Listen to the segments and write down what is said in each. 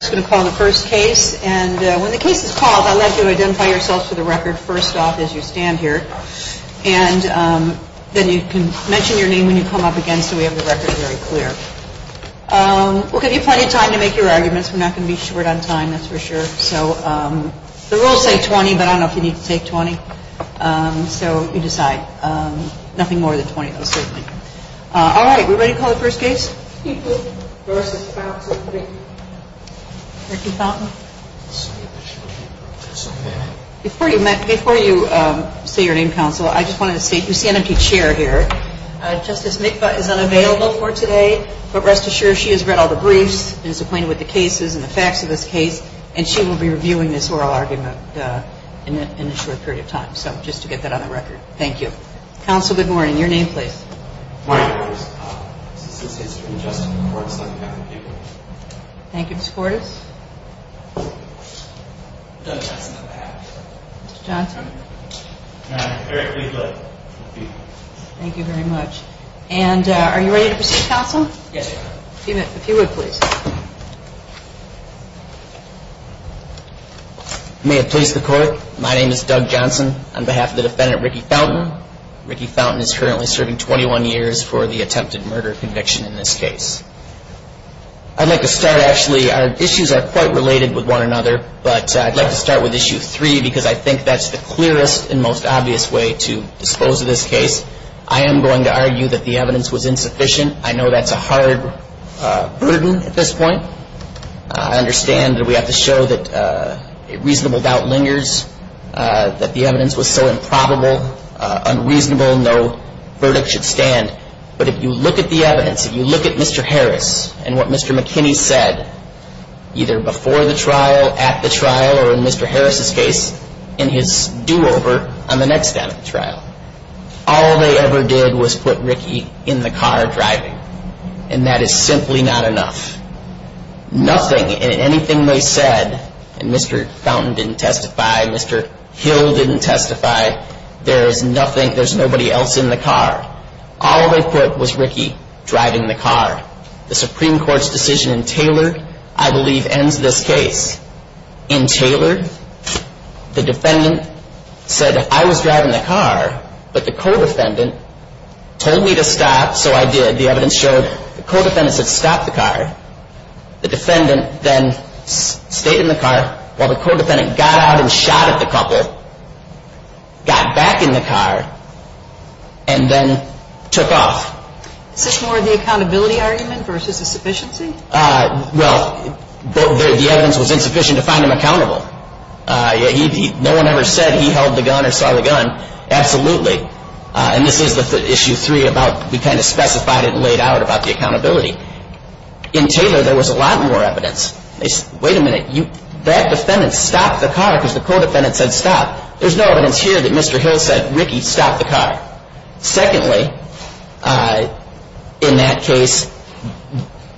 I'm just going to call the first case and when the case is called, I'd like you to identify yourselves for the record first off as you stand here and then you can mention your name when you come up again so we have the record very clear. We'll give you plenty of time to make your arguments. We're not going to be short on time, that's for sure. The rules say 20, but I don't know if you need to take 20, so you decide. Nothing more than 20, though, certainly. All right, we ready to call the first case? Mikva versus Fountain. Before you say your name, counsel, I just wanted to say you see an empty chair here. Justice Mikva is unavailable for today, but rest assured she has read all the briefs and is acquainted with the cases and the facts of this case and she will be reviewing this oral argument in a short period of time, so just to get that on the record. Thank you. Counsel, good morning. Your name, please. Good morning, Ms. Cordes. This is Mr. Justin Cordes on behalf of Mikva. Thank you, Ms. Cordes. Doug Johnson, on behalf. Mr. Johnson. I'm very pleased to be here. Thank you very much. And are you ready to proceed, counsel? Yes, ma'am. If you would, please. You may have placed the court. My name is Doug Johnson on behalf of the defendant, Ricky Fountain. Ricky Fountain is currently serving 21 years for the attempted murder conviction in this case. I'd like to start, actually, our issues are quite related with one another, but I'd like to start with Issue 3 because I think that's the clearest and most obvious way to dispose of this case. I am going to argue that the evidence was insufficient. I know that's a hard burden at this point. I understand that we have to show that a reasonable doubt lingers, that the evidence was so improbable, unreasonable, no verdict should stand. But if you look at the evidence, if you look at Mr. Harris and what Mr. McKinney said, either before the trial, at the trial, or in Mr. Harris's case, in his do-over on the next day of the trial, all they ever did was put Ricky in the car driving. And that is simply not enough. Nothing in anything they said, and Mr. Fountain didn't testify, Mr. Hill didn't testify, there is nothing, there's nobody else in the car. All they put was Ricky driving the car. The Supreme Court's decision in Taylor, I believe, ends this case. In Taylor, the defendant said I was driving the car, but the co-defendant told me to stop, so I did. The evidence showed the co-defendant said stop the car. The defendant then stayed in the car while the co-defendant got out and shot at the couple, got back in the car, and then took off. Is this more of the accountability argument versus the sufficiency? Well, the evidence was insufficient to find him accountable. No one ever said he held the gun or saw the gun. Absolutely. And this is the issue three about, we kind of specified it and laid out about the accountability. In Taylor, there was a lot more evidence. Wait a minute, that defendant stopped the car because the co-defendant said stop. There's no evidence here that Mr. Hill said Ricky, stop the car. Secondly, in that case,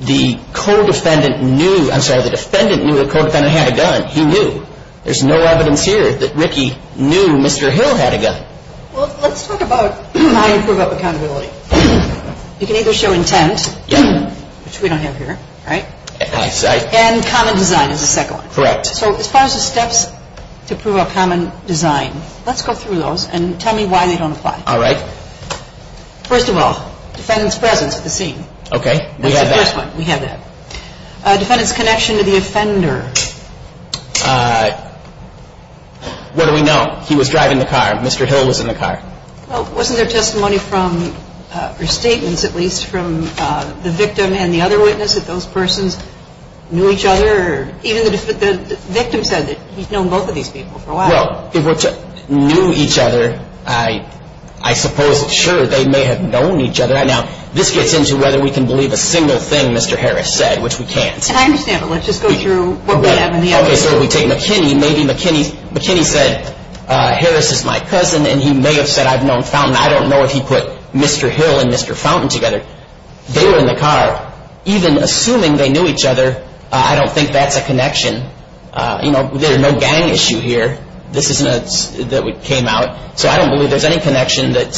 the defendant knew the co-defendant had a gun. He knew. There's no evidence here that Ricky knew Mr. Hill had a gun. Well, let's talk about how you prove accountability. You can either show intent, which we don't have here, right? And common design is the second one. Correct. So as far as the steps to prove a common design, let's go through those and tell me why they don't apply. All right. First of all, defendant's presence at the scene. Okay. That's the first one. We have that. Defendant's connection to the offender. What do we know? He was driving the car. Mr. Hill was in the car. Well, wasn't there testimony from, or statements at least, from the victim and the other witness that those persons knew each other? Even the victim said that he'd known both of these people for a while. Well, if they knew each other, I suppose, sure, they may have known each other. Now, this gets into whether we can believe a single thing Mr. Harris said, which we can't. And I understand, but let's just go through what we have in the evidence. Okay. So we take McKinney. Maybe McKinney said, Harris is my cousin, and he may have said, I've known Fountain. I don't know if he put Mr. Hill and Mr. Fountain together. They were in the car. Even assuming they knew each other, I don't think that's a connection. You know, there's no gang issue here. This isn't a, that came out. So I don't believe there's any connection that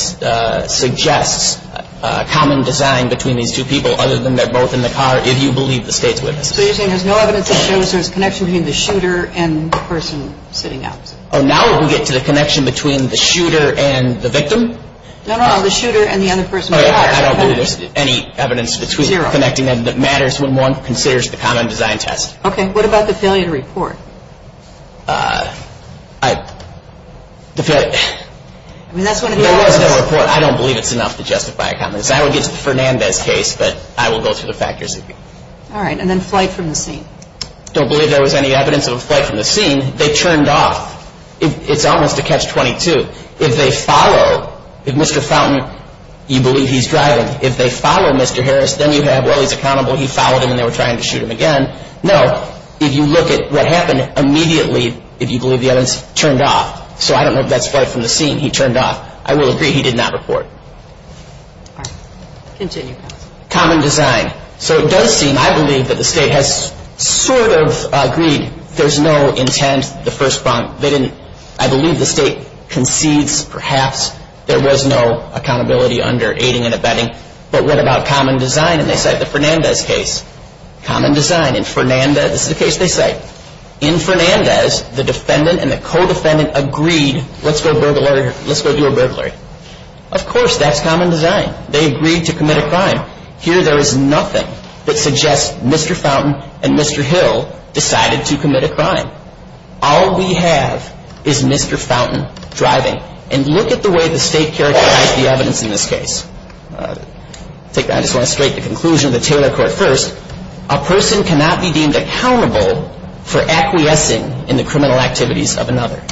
suggests a common design between these two people, other than they're both in the car, if you believe the State's witnesses. So you're saying there's no evidence that shows there's a connection between the shooter and the person sitting out? Oh, now we get to the connection between the shooter and the victim? No, no, no, the shooter and the other person in the car. Okay. I don't believe there's any evidence connecting them that matters when one considers the common design test. Okay. What about the failure to report? I, the failure, there was no report. I don't believe it's enough to justify a common design. I would get to Fernandez's case, but I will go through the factors. All right. And then flight from the scene. Don't believe there was any evidence of a flight from the scene. They turned off. It's almost a catch-22. If they follow, if Mr. Fountain, you believe he's driving. If they follow Mr. Harris, then you have, well, he's accountable. He followed him, and they were trying to shoot him again. No, if you look at what happened immediately, if you believe the evidence, turned off. So I don't know if that's flight from the scene. He turned off. I will agree he did not report. All right. Continue. Common design. So it does seem, I believe, that the State has sort of agreed there's no intent, the first prompt. They didn't, I believe the State concedes perhaps there was no accountability under aiding and abetting. But what about common design? And they cite the Fernandez case. Common design. In Fernandez, this is a case they cite. In Fernandez, the defendant and the co-defendant agreed, let's go do a burglary. Of course, that's common design. They agreed to commit a crime. Here there is nothing that suggests Mr. Fountain and Mr. Hill decided to commit a crime. All we have is Mr. Fountain driving. And look at the way the State characterized the evidence in this case. I just want to state the conclusion of the Taylor Court first. A person cannot be deemed accountable for acquiescing in the criminal activities of another.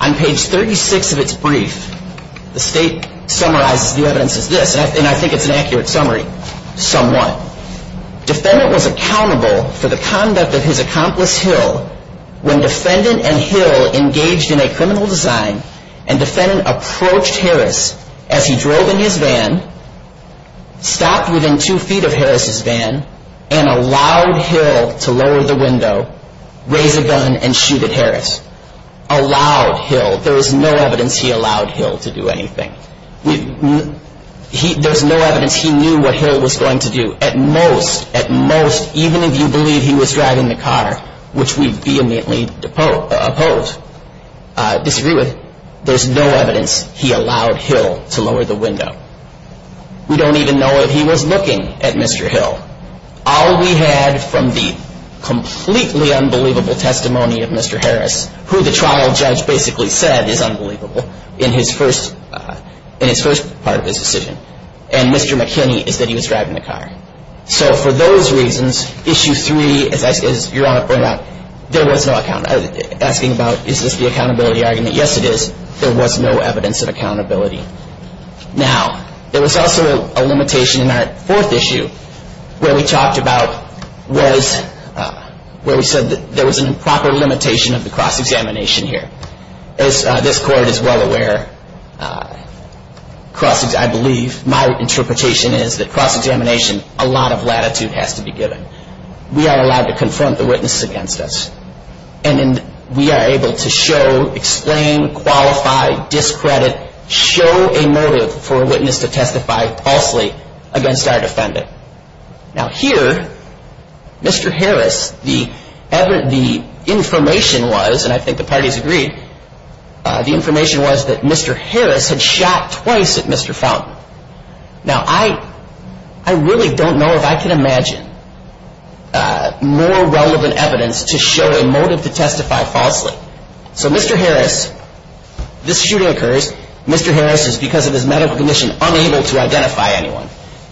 On page 36 of its brief, the State summarizes the evidence as this. And I think it's an accurate summary somewhat. Defendant was accountable for the conduct of his accomplice Hill when defendant and Hill engaged in a criminal design and defendant approached Harris as he drove in his van, stopped within two feet of Harris' van, and allowed Hill to lower the window, raise a gun, and shoot at Harris. Allowed Hill. There is no evidence he allowed Hill to do anything. There's no evidence he knew what Hill was going to do. At most, at most, even if you believe he was driving the car, which we vehemently oppose, disagree with, there's no evidence he allowed Hill to lower the window. We don't even know if he was looking at Mr. Hill. All we had from the completely unbelievable testimony of Mr. Harris, who the trial judge basically said is unbelievable in his first part of his decision, and Mr. McKinney is that he was driving the car. So for those reasons, Issue 3, as Your Honor pointed out, there was no account, asking about is this the accountability argument. Yes, it is. There was no evidence of accountability. Now, there was also a limitation in our fourth issue where we talked about was, where we said that there was an improper limitation of the cross-examination here. As this Court is well aware, cross-examination, I believe, my interpretation is that cross-examination, a lot of latitude has to be given. We are allowed to confront the witnesses against us, and we are able to show, explain, qualify, discredit, show a motive for a witness to testify falsely against our defendant. Now here, Mr. Harris, the information was, and I think the parties agreed, the information was that Mr. Harris had shot twice at Mr. Fountain. Now, I really don't know if I can imagine more relevant evidence to show a motive to testify falsely. So Mr. Harris, this shooting occurs. Mr. Harris is, because of his medical condition, unable to identify anyone.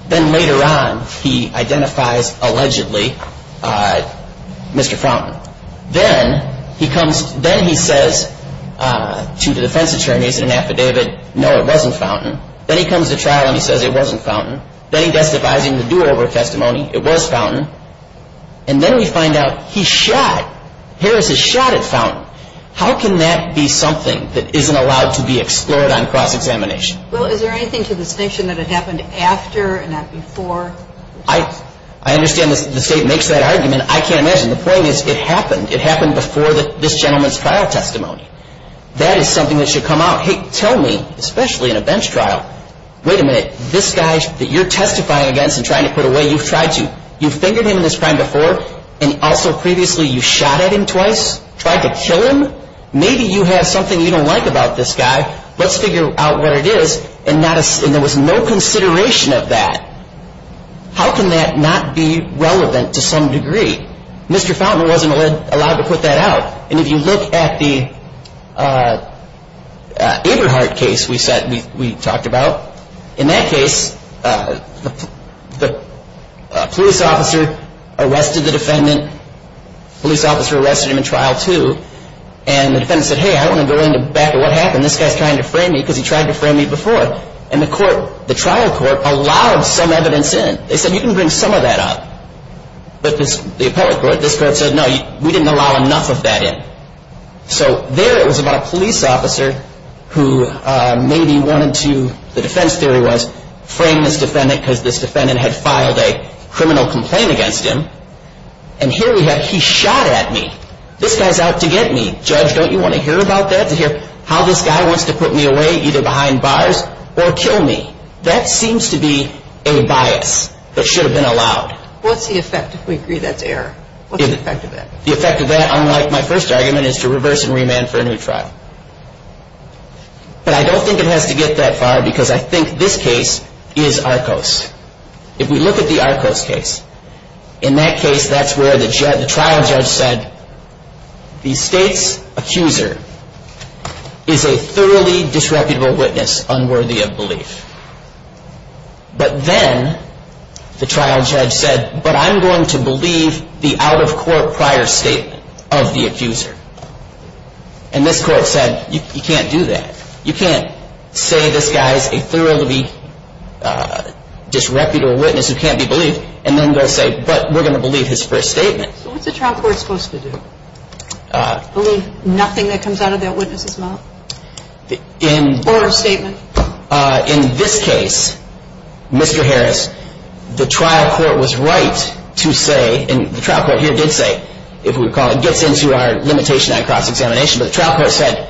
Then later on, he identifies, allegedly, Mr. Fountain. Then he says to the defense attorneys in an affidavit, no, it wasn't Fountain. Then he comes to trial and he says it wasn't Fountain. Then he testifies in the do-over testimony. It was Fountain. And then we find out he shot. Harris has shot at Fountain. How can that be something that isn't allowed to be explored on cross-examination? Well, is there anything to the distinction that it happened after and not before? I understand the State makes that argument. I can't imagine. The point is it happened. It happened before this gentleman's trial testimony. That is something that should come out. Hey, tell me, especially in a bench trial, wait a minute, this guy that you're testifying against and trying to put away, you've tried to. You've fingered him in this crime before, and also previously you shot at him twice, tried to kill him. Maybe you have something you don't like about this guy. Let's figure out what it is. And there was no consideration of that. How can that not be relevant to some degree? Mr. Fountain wasn't allowed to put that out. And if you look at the Eberhardt case we talked about, in that case the police officer arrested the defendant. The police officer arrested him in trial too. And the defendant said, hey, I want to go back to what happened. This guy's trying to frame me because he tried to frame me before. And the trial court allowed some evidence in. They said, you can bring some of that up. But the appellate court, this court said, no, we didn't allow enough of that in. So there it was about a police officer who maybe wanted to, the defense theory was, frame this defendant because this defendant had filed a criminal complaint against him. And here we have, he shot at me. This guy's out to get me. Judge, don't you want to hear about that, to hear how this guy wants to put me away either behind bars or kill me? That seems to be a bias that should have been allowed. What's the effect if we agree that's error? What's the effect of that? The effect of that, unlike my first argument, is to reverse and remand for a new trial. But I don't think it has to get that far because I think this case is ARCOS. If we look at the ARCOS case, in that case that's where the trial judge said, the state's accuser is a thoroughly disreputable witness unworthy of belief. But then the trial judge said, but I'm going to believe the out-of-court prior statement of the accuser. And this court said, you can't do that. You can't say this guy's a thoroughly disreputable witness who can't be believed and then go say, but we're going to believe his first statement. So what's the trial court supposed to do? Believe nothing that comes out of that witness's mouth or statement? In this case, Mr. Harris, the trial court was right to say, and the trial court here did say, if we recall, it gets into our limitation on cross-examination. But the trial court said,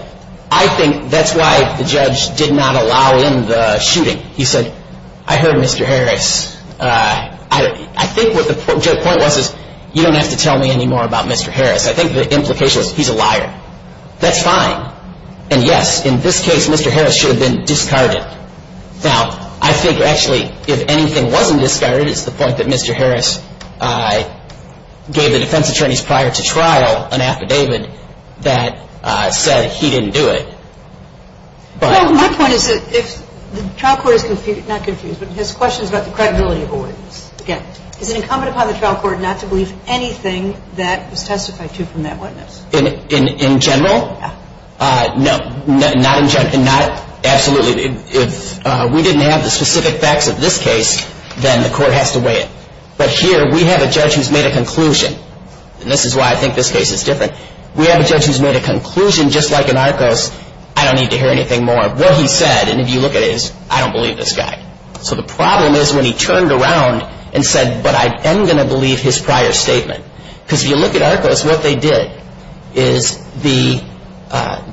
I think that's why the judge did not allow in the shooting. He said, I heard Mr. Harris. I think what the point was is, you don't have to tell me any more about Mr. Harris. I think the implication is he's a liar. That's fine. And, yes, in this case, Mr. Harris should have been discarded. Now, I think actually if anything wasn't discarded, it's the point that Mr. Harris gave the defense attorneys prior to trial an affidavit that said he didn't do it. Well, my point is that if the trial court is confused, not confused, but has questions about the credibility of a witness, again, is it incumbent upon the trial court not to believe anything that was testified to from that witness? In general? Yeah. No. Not in general. Absolutely. If we didn't have the specific facts of this case, then the court has to weigh it. But here we have a judge who's made a conclusion, and this is why I think this case is different. We have a judge who's made a conclusion, just like in Arcos, I don't need to hear anything more. What he said, and if you look at it, is I don't believe this guy. So the problem is when he turned around and said, but I am going to believe his prior statement. Because if you look at Arcos, what they did is the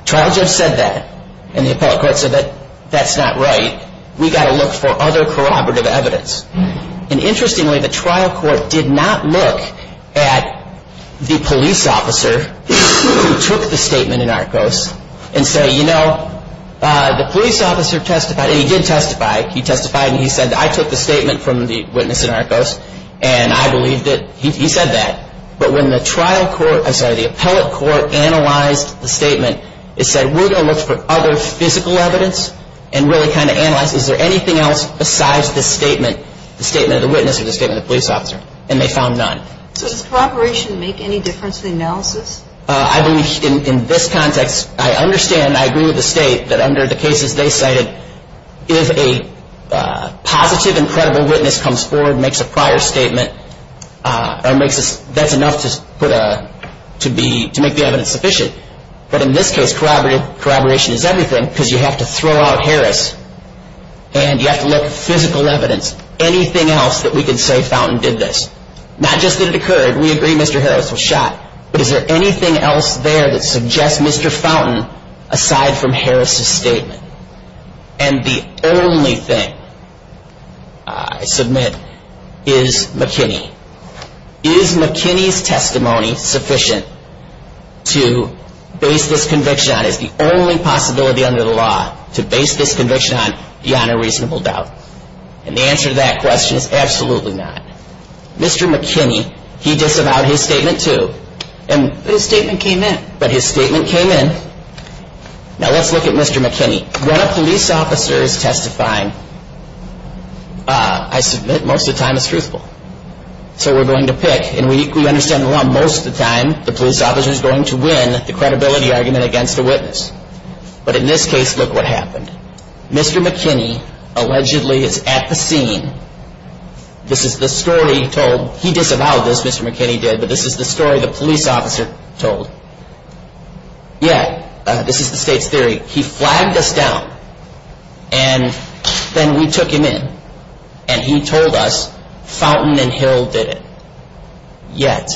trial judge said that, and the appellate court said that that's not right. We've got to look for other corroborative evidence. And interestingly, the trial court did not look at the police officer who took the statement in Arcos and say, you know, the police officer testified, and he did testify, he testified, and he said, I took the statement from the witness in Arcos, and I believe that he said that. But when the trial court, I'm sorry, the appellate court analyzed the statement, it said we're going to look for other physical evidence and really kind of analyze, is there anything else besides this statement, the statement of the witness or the statement of the police officer? And they found none. So does corroboration make any difference in the analysis? I believe in this context, I understand, I agree with the state that under the cases they cited, if a positive and credible witness comes forward and makes a prior statement, that's enough to make the evidence sufficient. But in this case, corroboration is everything because you have to throw out Harris and you have to look for physical evidence, anything else that we can say Fountain did this. Not just that it occurred, we agree Mr. Harris was shot, but is there anything else there that suggests Mr. Fountain aside from Harris' statement? And the only thing I submit is McKinney. Is McKinney's testimony sufficient to base this conviction on, is the only possibility under the law to base this conviction on beyond a reasonable doubt? And the answer to that question is absolutely not. Mr. McKinney, he disavowed his statement too. But his statement came in. But his statement came in. Now let's look at Mr. McKinney. When a police officer is testifying, I submit most of the time it's truthful. So we're going to pick, and we understand most of the time the police officer is going to win the credibility argument against the witness. But in this case, look what happened. Mr. McKinney allegedly is at the scene. This is the story told. He disavowed this, Mr. McKinney did, but this is the story the police officer told. Yet, this is the state's theory. He flagged us down. And then we took him in. And he told us Fountain and Hill did it. Yet,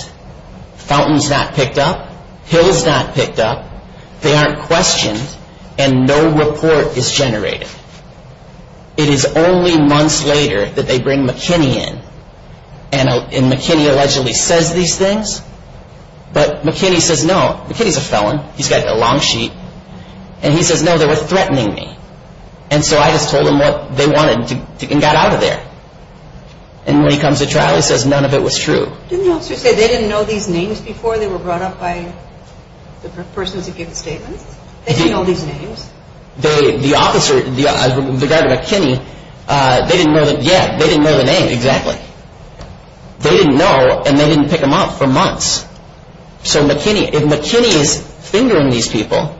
Fountain's not picked up. Hill's not picked up. They aren't questioned. And no report is generated. It is only months later that they bring McKinney in. And McKinney allegedly says these things. But McKinney says no. McKinney's a felon. He's got a long sheet. And he says no, they were threatening me. And so I just told them what they wanted and got out of there. And when he comes to trial, he says none of it was true. Didn't the officer say they didn't know these names before they were brought up by the person to give the statements? They didn't know these names. The officer, the guy, McKinney, they didn't know the names, exactly. They didn't know, and they didn't pick them up for months. So McKinney, if McKinney is fingering these people,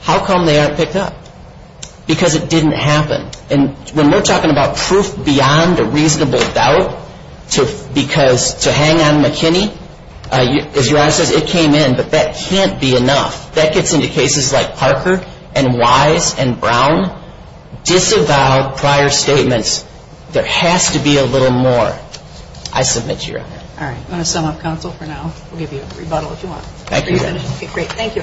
how come they aren't picked up? Because it didn't happen. And when we're talking about proof beyond a reasonable doubt to hang on McKinney, as your Honor says, it came in. But that can't be enough. That gets into cases like Parker and Wise and Brown, disavowed prior statements. There has to be a little more. I submit to your Honor. All right. I'm going to sum up counsel for now. We'll give you a rebuttal if you want. Thank you, Your Honor. Okay, great. Thank you.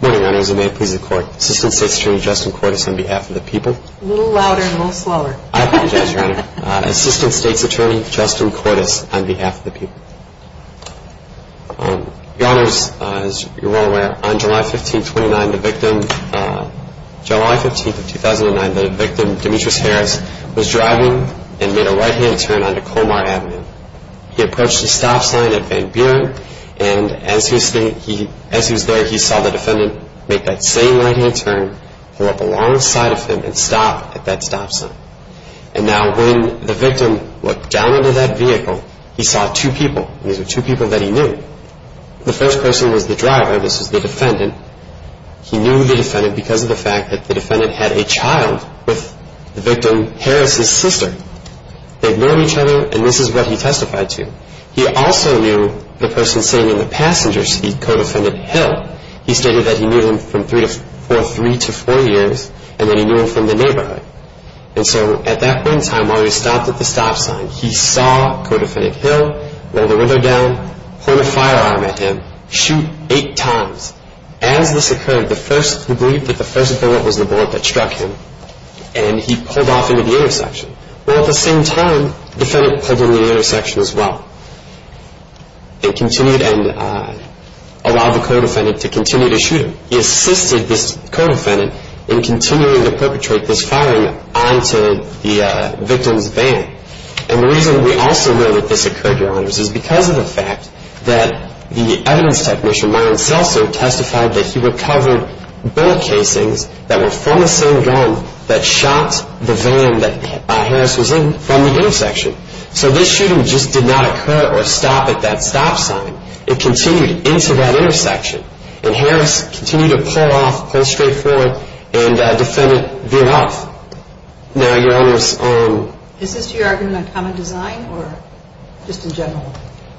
Good morning, Your Honor. As it may please the Court, Assistant State's Attorney Justin Cordes on behalf of the people. A little louder and a little slower. I apologize, Your Honor. Assistant State's Attorney Justin Cordes on behalf of the people. Your Honor, as you're well aware, on July 15, 2009, the victim, Demetrius Harris, was driving and made a right-hand turn onto Colmar Avenue. He approached a stop sign at Van Buren, and as he was there, he saw the defendant make that same right-hand turn, pull up alongside of him, and stop at that stop sign. And now when the victim looked down into that vehicle, he saw two people. These were two people that he knew. The first person was the driver. This was the defendant. He knew the defendant because of the fact that the defendant had a child with the victim, Harris' sister. They had known each other, and this is what he testified to. He also knew the person sitting in the passenger seat, co-defendant Hill. He stated that he knew him for three to four years, and that he knew him from the neighborhood. And so at that point in time, while he stopped at the stop sign, he saw co-defendant Hill roll the window down, point a firearm at him, shoot eight times. As this occurred, the first who believed that the first bullet was the bullet that struck him, and he pulled off into the intersection. Well, at the same time, the defendant pulled into the intersection as well. He continued and allowed the co-defendant to continue to shoot him. He assisted this co-defendant in continuing to perpetrate this firing onto the victim's van. And the reason we also know that this occurred, Your Honors, is because of the fact that the evidence technician, Myron Selser, testified that he recovered bullet casings that were from the same gun that shot the van that Harris was in from the intersection. So this shooting just did not occur or stop at that stop sign. It continued into that intersection. And Harris continued to pull off, pull straight forward, and defendant veered off. Now, Your Honors. Is this, to your argument, a common design or just in general?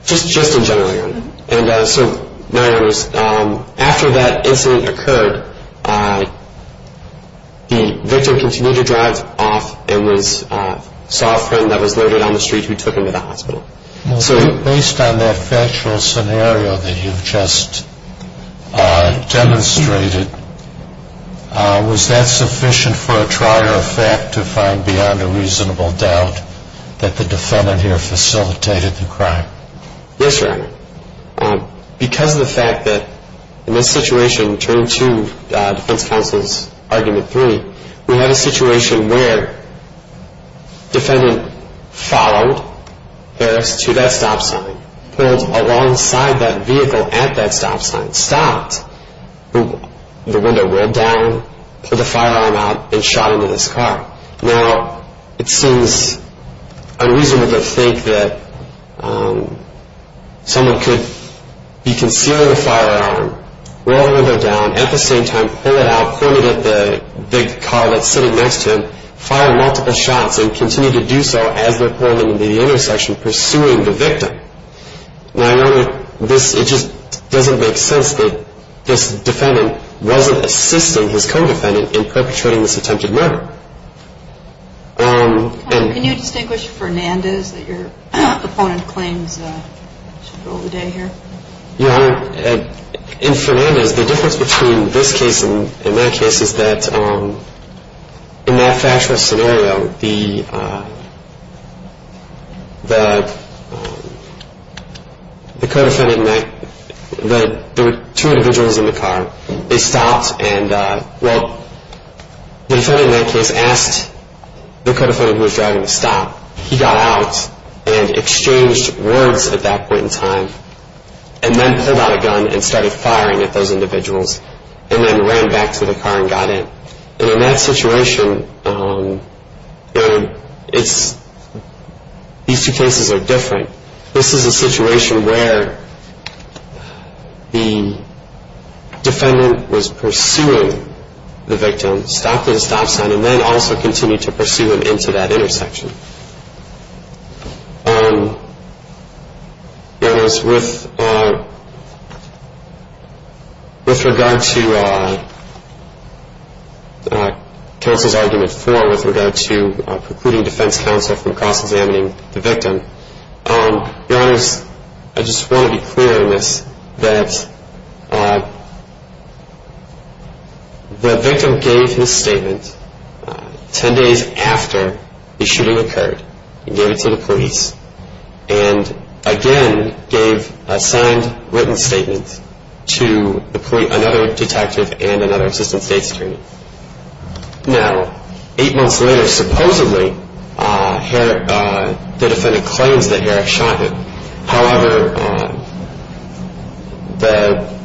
Just in general, Your Honor. And so, Your Honors, after that incident occurred, the victim continued to drive off and saw a friend that was loaded on the street who took him to the hospital. So based on that factual scenario that you've just demonstrated, was that sufficient for a trier of fact to find beyond a reasonable doubt that the defendant here facilitated the crime? Yes, Your Honor. Because of the fact that in this situation, turning to Defense Counsel's Argument 3, we have a situation where defendant followed Harris to that stop sign, pulled alongside that vehicle at that stop sign, stopped, the window rolled down, pulled the firearm out, and shot into this car. Now, it seems unreasonable to think that someone could be concealing a firearm, roll the window down, at the same time pull it out, point it at the big car that's sitting next to him, fire multiple shots, and continue to do so as they're pulling into the intersection, pursuing the victim. Now, Your Honor, it just doesn't make sense that this defendant wasn't assisting his co-defendant in perpetrating this attempted murder. Can you distinguish Fernandez that your opponent claims should go the day here? Your Honor, in Fernandez, the difference between this case and my case is that in that factual scenario, the co-defendant and I, there were two individuals in the car. They stopped and, well, the defendant in that case asked the co-defendant who was driving to stop. He got out and exchanged words at that point in time, and then pulled out a gun and started firing at those individuals, and then ran back to the car and got in. And in that situation, these two cases are different. This is a situation where the defendant was pursuing the victim, stopped at a stop sign, and then also continued to pursue him into that intersection. Your Honor, with regard to counsel's argument four, with regard to precluding defense counsel from cross-examining the victim, Your Honor, I just want to be clear on this, that the victim gave his statement ten days after the shooting occurred. He gave it to the police and, again, gave a signed, written statement to another detective and another assistant state security. Now, eight months later, supposedly, the defendant claims that Eric shot him. However, the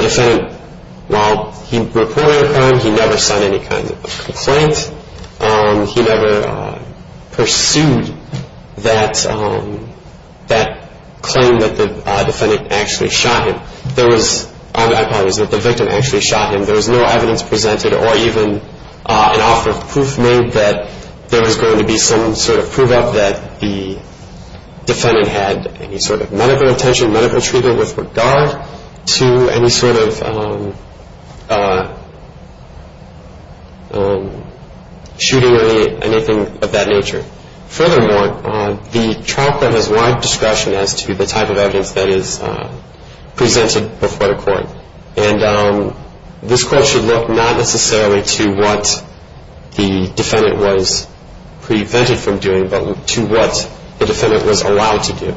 defendant, while he reported the crime, he never signed any kind of complaint. He never pursued that claim that the defendant actually shot him. My point is that the victim actually shot him. There was no evidence presented or even an awful proof made that there was going to be some sort of prove-up that the defendant had any sort of medical attention, medical treatment, with regard to any sort of shooting or anything of that nature. Furthermore, the trial court has wide discretion as to the type of evidence that is presented before the court. And this court should look not necessarily to what the defendant was prevented from doing, but to what the defendant was allowed to do.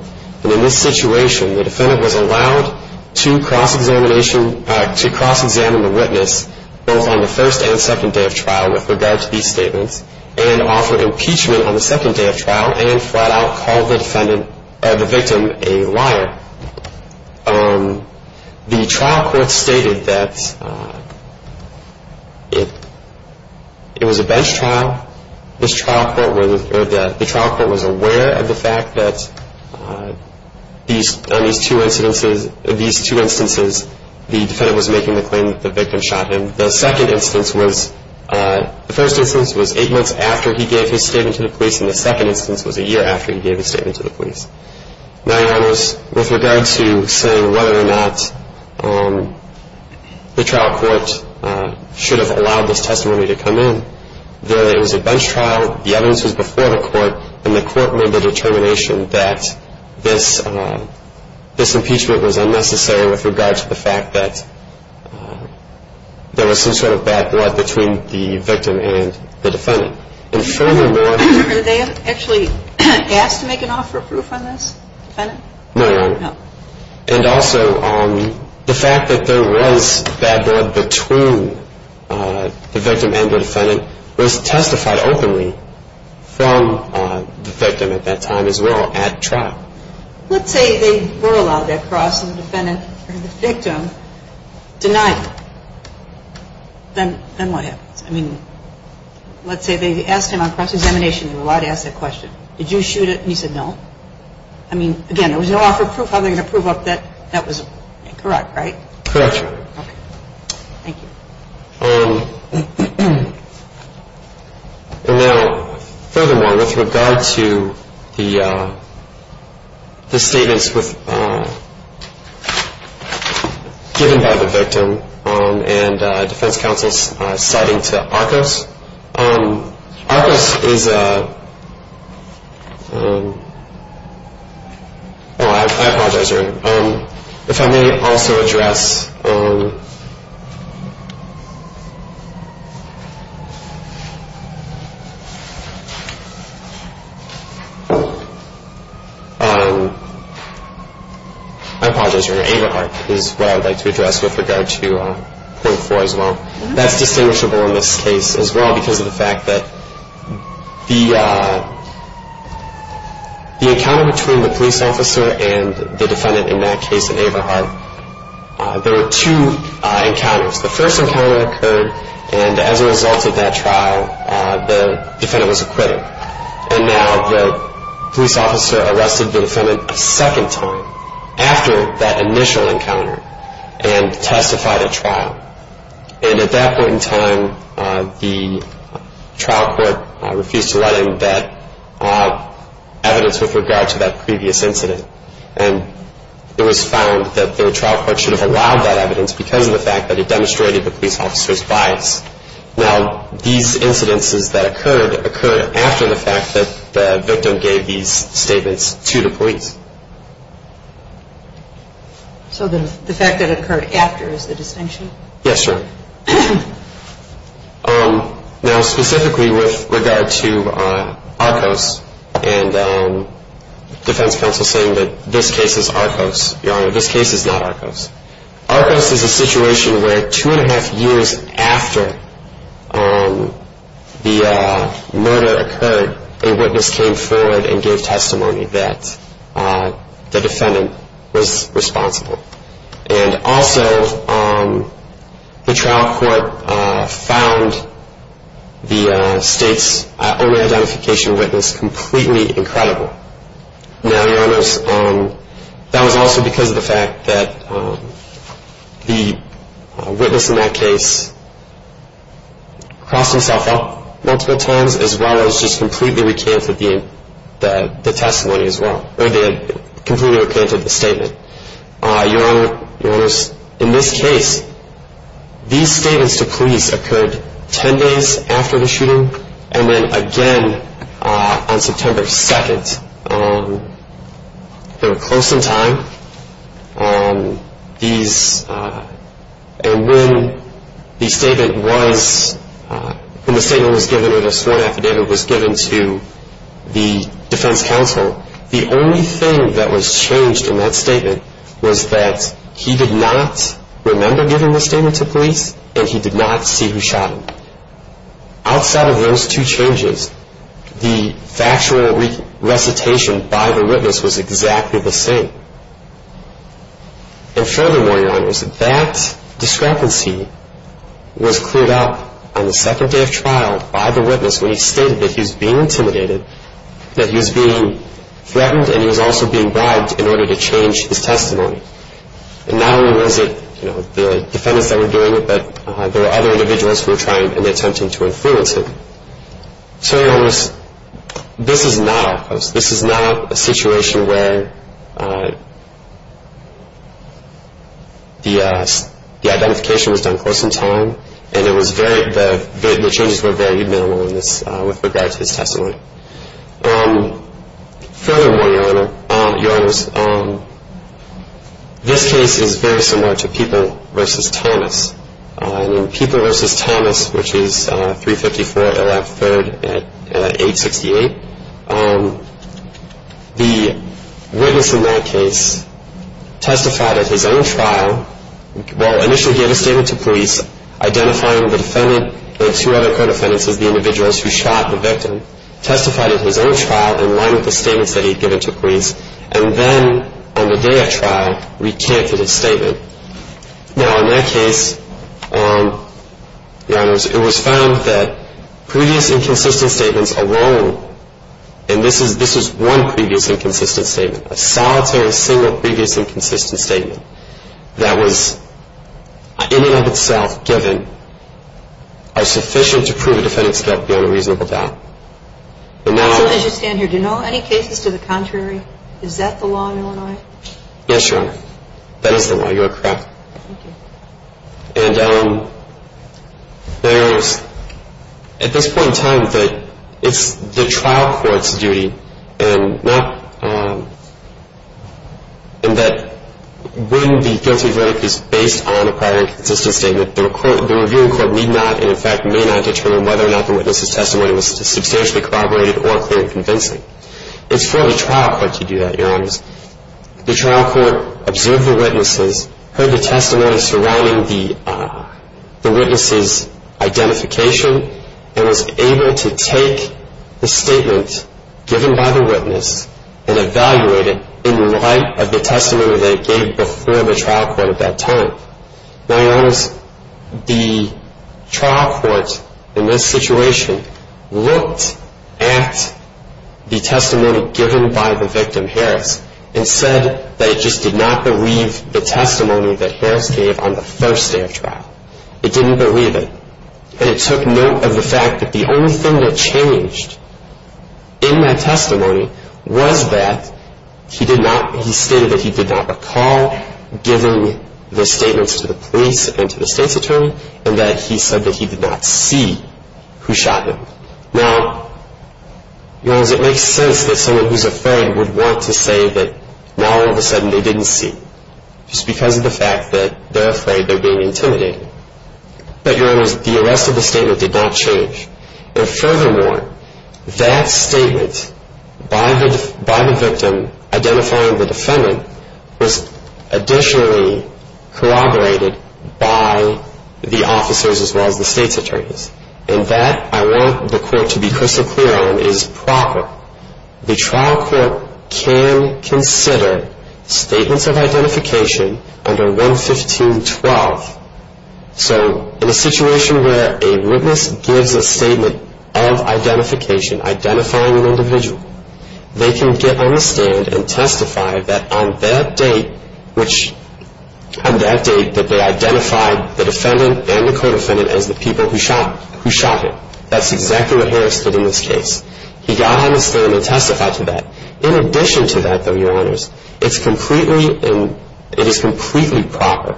And in this situation, the defendant was allowed to cross-examine the witness, both on the first and second day of trial, with regard to these statements, and offer impeachment on the second day of trial, and flat-out call the victim a liar. The trial court stated that it was a bench trial. The trial court was aware of the fact that on these two instances, the defendant was making the claim that the victim shot him. The first instance was eight months after he gave his statement to the police, and the second instance was a year after he gave his statement to the police. Now, Your Honors, with regard to saying whether or not the trial court should have allowed this testimony to come in, that it was a bench trial, the evidence was before the court, and the court made the determination that this impeachment was unnecessary with regard to the fact that there was some sort of bad blood between the victim and the defendant. And furthermore, Did they actually ask to make an offer of proof on this, defendant? No, Your Honor. No. And also, the fact that there was bad blood between the victim and the defendant was testified openly from the victim at that time as well at trial. Let's say they were allowed that cross, and the defendant or the victim denied it. Then what happens? I mean, let's say they asked him on cross-examination. They were allowed to ask that question. Did you shoot it? And he said no. I mean, again, there was no offer of proof. How are they going to prove that that was correct, right? Correct, Your Honor. Okay. Thank you. And now, furthermore, with regard to the statements given by the victim and defense counsel's citing to Arcos, Arcos is a, oh, I apologize, Your Honor. If I may also address, I apologize, Your Honor. Averhart is what I would like to address with regard to point four as well. That's distinguishable in this case as well because of the fact that the encounter between the police officer and the defendant in that case at Averhart, there were two encounters. The first encounter occurred, and as a result of that trial, the defendant was acquitted. And now the police officer arrested the defendant a second time after that initial encounter and testified at trial. And at that point in time, the trial court refused to let in that evidence with regard to that previous incident. And it was found that the trial court should have allowed that evidence because of the fact that it demonstrated the police officer's bias. Now, these incidences that occurred occurred after the fact that the victim gave these statements to the police. So the fact that it occurred after is the distinction? Yes, Your Honor. Now, specifically with regard to Arcos and defense counsel saying that this case is Arcos, Your Honor, this case is not Arcos. Arcos is a situation where two and a half years after the murder occurred, a witness came forward and gave testimony that the defendant was responsible. And also, the trial court found the state's own identification witness completely incredible. Now, Your Honors, that was also because of the fact that the witness in that case crossed himself up multiple times as well as just completely recanted the testimony as well, or they had completely recanted the statement. Your Honors, in this case, these statements to police occurred 10 days after the shooting, and then again on September 2nd. They were close in time. And when the statement was given or this one affidavit was given to the defense counsel, the only thing that was changed in that statement was that he did not remember giving this statement to police and he did not see who shot him. Outside of those two changes, the factual recitation by the witness was exactly the same. And furthermore, Your Honors, that discrepancy was cleared up on the second day of trial by the witness when he stated that he was being intimidated, that he was being threatened, and he was also being bribed in order to change his testimony. And not only was it the defendants that were doing it, but there were other individuals who were trying and attempting to influence him. So, Your Honors, this is not a situation where the identification was done close in time and the changes were very minimal with regard to his testimony. Furthermore, Your Honors, this case is very similar to People v. Thomas. In People v. Thomas, which is 354 LF 3rd at 868, the witness in that case testified at his own trial. Well, initially he had a statement to police identifying the defendant and two other current defendants as the individuals who shot the victim, testified at his own trial in line with the statements that he had given to police, and then on the day of trial recanted his statement. Now, in that case, Your Honors, it was found that previous inconsistent statements alone, and this was one previous inconsistent statement, a solitary single previous inconsistent statement that was in and of itself given are sufficient to prove a defendant's guilt beyond a reasonable doubt. So, as you stand here, do you know of any cases to the contrary? Is that the law in Illinois? Yes, Your Honor. That is the law. You are correct. Thank you. And there is, at this point in time, that it's the trial court's duty, and that when the guilty verdict is based on a prior inconsistent statement, the reviewing court need not, and in fact may not, determine whether or not the witness's testimony was substantially corroborated or clearly convincing. It's for the trial court to do that, Your Honors. The trial court observed the witnesses, heard the testimony surrounding the witness's identification, and was able to take the statement given by the witness and evaluate it in light of the testimony that it gave before the trial court at that time. Now, Your Honors, the trial court, in this situation, looked at the testimony given by the victim, Harris, and said that it just did not believe the testimony that Harris gave on the first day of trial. It didn't believe it. And it took note of the fact that the only thing that changed in that testimony was that he did not, he stated that he did not recall giving the statements to the police and to the state's attorney, and that he said that he did not see who shot him. Now, Your Honors, it makes sense that someone who's afraid would want to say that all of a sudden they didn't see, just because of the fact that they're afraid they're being intimidated. But, Your Honors, the arrest of the statement did not change. And furthermore, that statement by the victim identifying the defendant was additionally corroborated by the officers, as well as the state's attorneys. And that, I want the court to be crystal clear on, is proper. The trial court can consider statements of identification under 115.12. So, in a situation where a witness gives a statement of identification, identifying an individual, they can get on the stand and testify that on that date, that they identified the defendant and the co-defendant as the people who shot him. That's exactly what Harris did in this case. He got on the stand and testified to that. In addition to that, though, Your Honors, it is completely proper.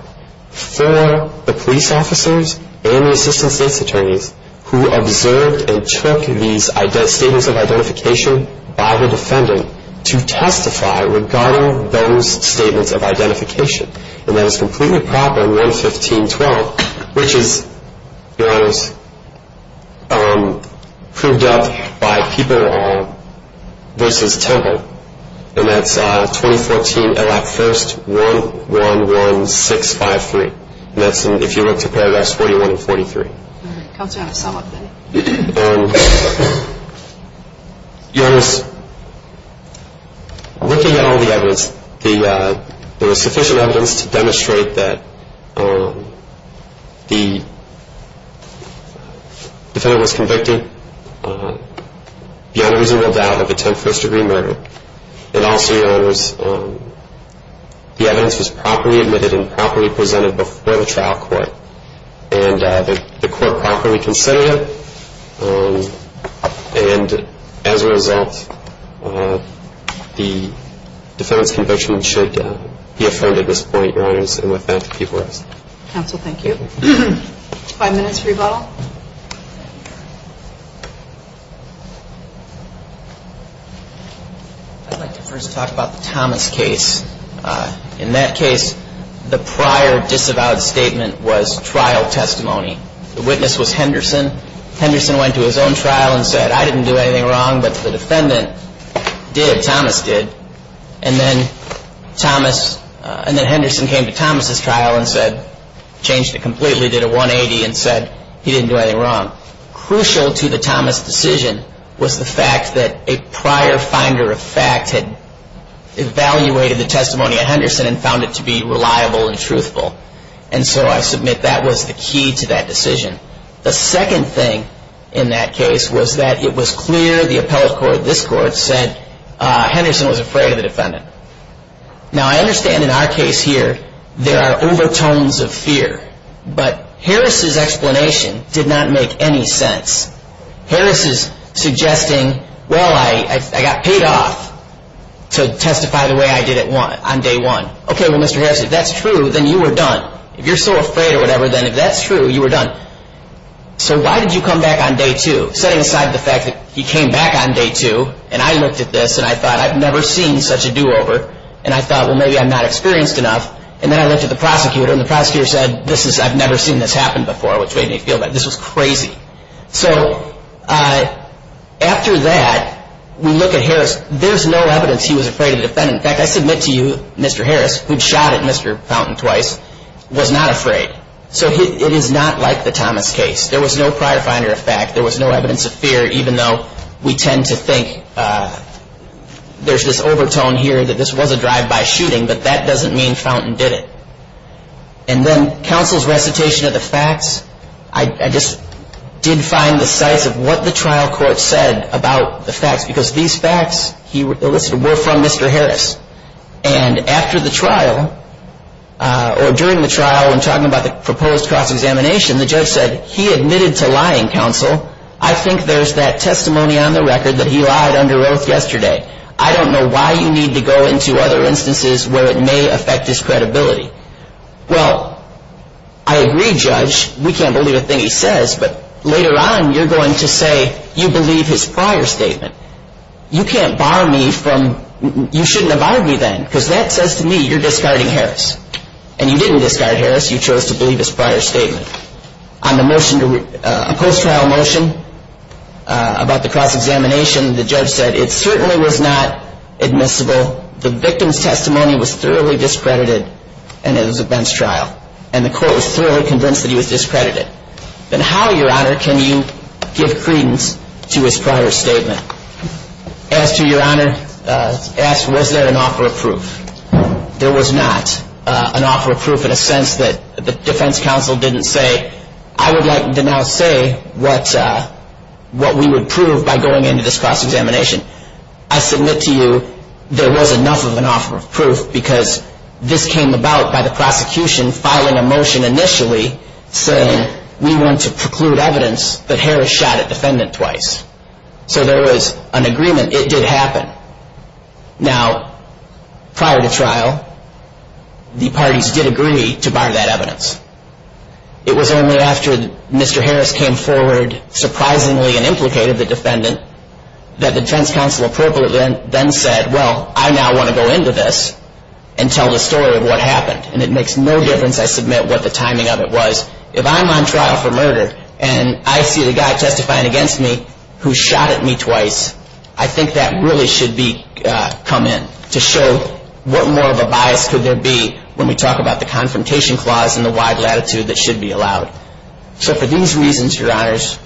For the police officers and the assistant state's attorneys, who observed and took these statements of identification by the defendant, to testify regarding those statements of identification. And that is completely proper in 115.12, which is, Your Honors, proved up by People v. Temple. And that's 2014 L.F. 1st 111653. And that's if you look to paragraphs 41 and 43. All right. Counselor, I have a sum-up then. Your Honors, looking at all the evidence, there was sufficient evidence to demonstrate that the defendant was convicted, beyond reasonable doubt, of a 10th-first-degree murder. And also, Your Honors, the evidence was properly admitted and properly presented before the trial court. And the court properly considered it. And as a result, the defendant's conviction should be affirmed at this point, Your Honors. And with that, if you would rest. Counsel, thank you. Five minutes for rebuttal. I'd like to first talk about the Thomas case. In that case, the prior disavowed statement was trial testimony. The witness was Henderson. Henderson went to his own trial and said, I didn't do anything wrong, but the defendant did. Thomas did. And then Thomas, and then Henderson came to Thomas' trial and said, changed it completely, did a 180 and said, he didn't do anything wrong. Crucial to the Thomas decision was the fact that a prior finder of fact had evaluated the testimony of Henderson and found it to be reliable and truthful. And so I submit that was the key to that decision. The second thing in that case was that it was clear the appellate court, this court, said Henderson was afraid of the defendant. Now, I understand in our case here, there are overtones of fear. But Harris' explanation did not make any sense. Harris is suggesting, well, I got paid off to testify the way I did on day one. Okay, well, Mr. Harris, if that's true, then you were done. If you're so afraid or whatever, then if that's true, you were done. So why did you come back on day two, setting aside the fact that he came back on day two and I looked at this and I thought, I've never seen such a do-over. And I thought, well, maybe I'm not experienced enough. And then I looked at the prosecutor and the prosecutor said, I've never seen this happen before, which made me feel bad. This was crazy. So after that, we look at Harris. There's no evidence he was afraid of the defendant. In fact, I submit to you, Mr. Harris, who'd shot at Mr. Fountain twice, was not afraid. So it is not like the Thomas case. There was no prior finder of fact. There was no evidence of fear, even though we tend to think there's this overtone here that this was a drive-by shooting, but that doesn't mean Fountain did it. And then counsel's recitation of the facts, I just did find the size of what the trial court said about the facts, because these facts he elicited were from Mr. Harris. And after the trial, or during the trial, when talking about the proposed cross-examination, the judge said, he admitted to lying, counsel. I think there's that testimony on the record that he lied under oath yesterday. I don't know why you need to go into other instances where it may affect his credibility. Well, I agree, Judge. We can't believe a thing he says. But later on, you're going to say you believe his prior statement. You can't bar me from you shouldn't have argued then, because that says to me you're discarding Harris. And you didn't discard Harris. You chose to believe his prior statement. On the motion, a post-trial motion about the cross-examination, the judge said it certainly was not admissible. The victim's testimony was thoroughly discredited, and it was a bench trial. And the court was thoroughly convinced that he was discredited. Then how, Your Honor, can you give credence to his prior statement? As to Your Honor's ask, was there an offer of proof? There was not an offer of proof in a sense that the defense counsel didn't say, I would like to now say what we would prove by going into this cross-examination. I submit to you there was enough of an offer of proof because this came about by the prosecution filing a motion initially saying we want to preclude evidence that Harris shot a defendant twice. So there was an agreement. It did happen. Now, prior to trial, the parties did agree to bar that evidence. It was only after Mr. Harris came forward surprisingly and implicated the defendant that the defense counsel appropriately then said, well, I now want to go into this and tell the story of what happened. And it makes no difference, I submit, what the timing of it was. If I'm on trial for murder and I see the guy testifying against me who shot at me twice, I think that really should come in to show what more of a bias could there be when we talk about the confrontation clause and the wide latitude that should be allowed. So for these reasons, Your Honors,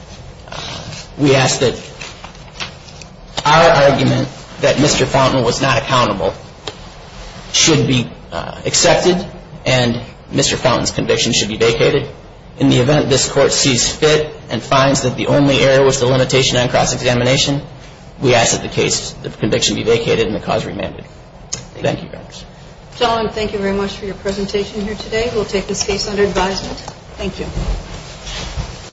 we ask that our argument that Mr. Fountain was not accountable should be accepted and Mr. Fountain's conviction should be vacated. In the event this Court sees fit and finds that the only error was the limitation on cross-examination, we ask that the case, the conviction be vacated and the cause remanded. Thank you, Your Honors. Gentlemen, thank you very much for your presentation here today. We'll take this case under advisement. Thank you.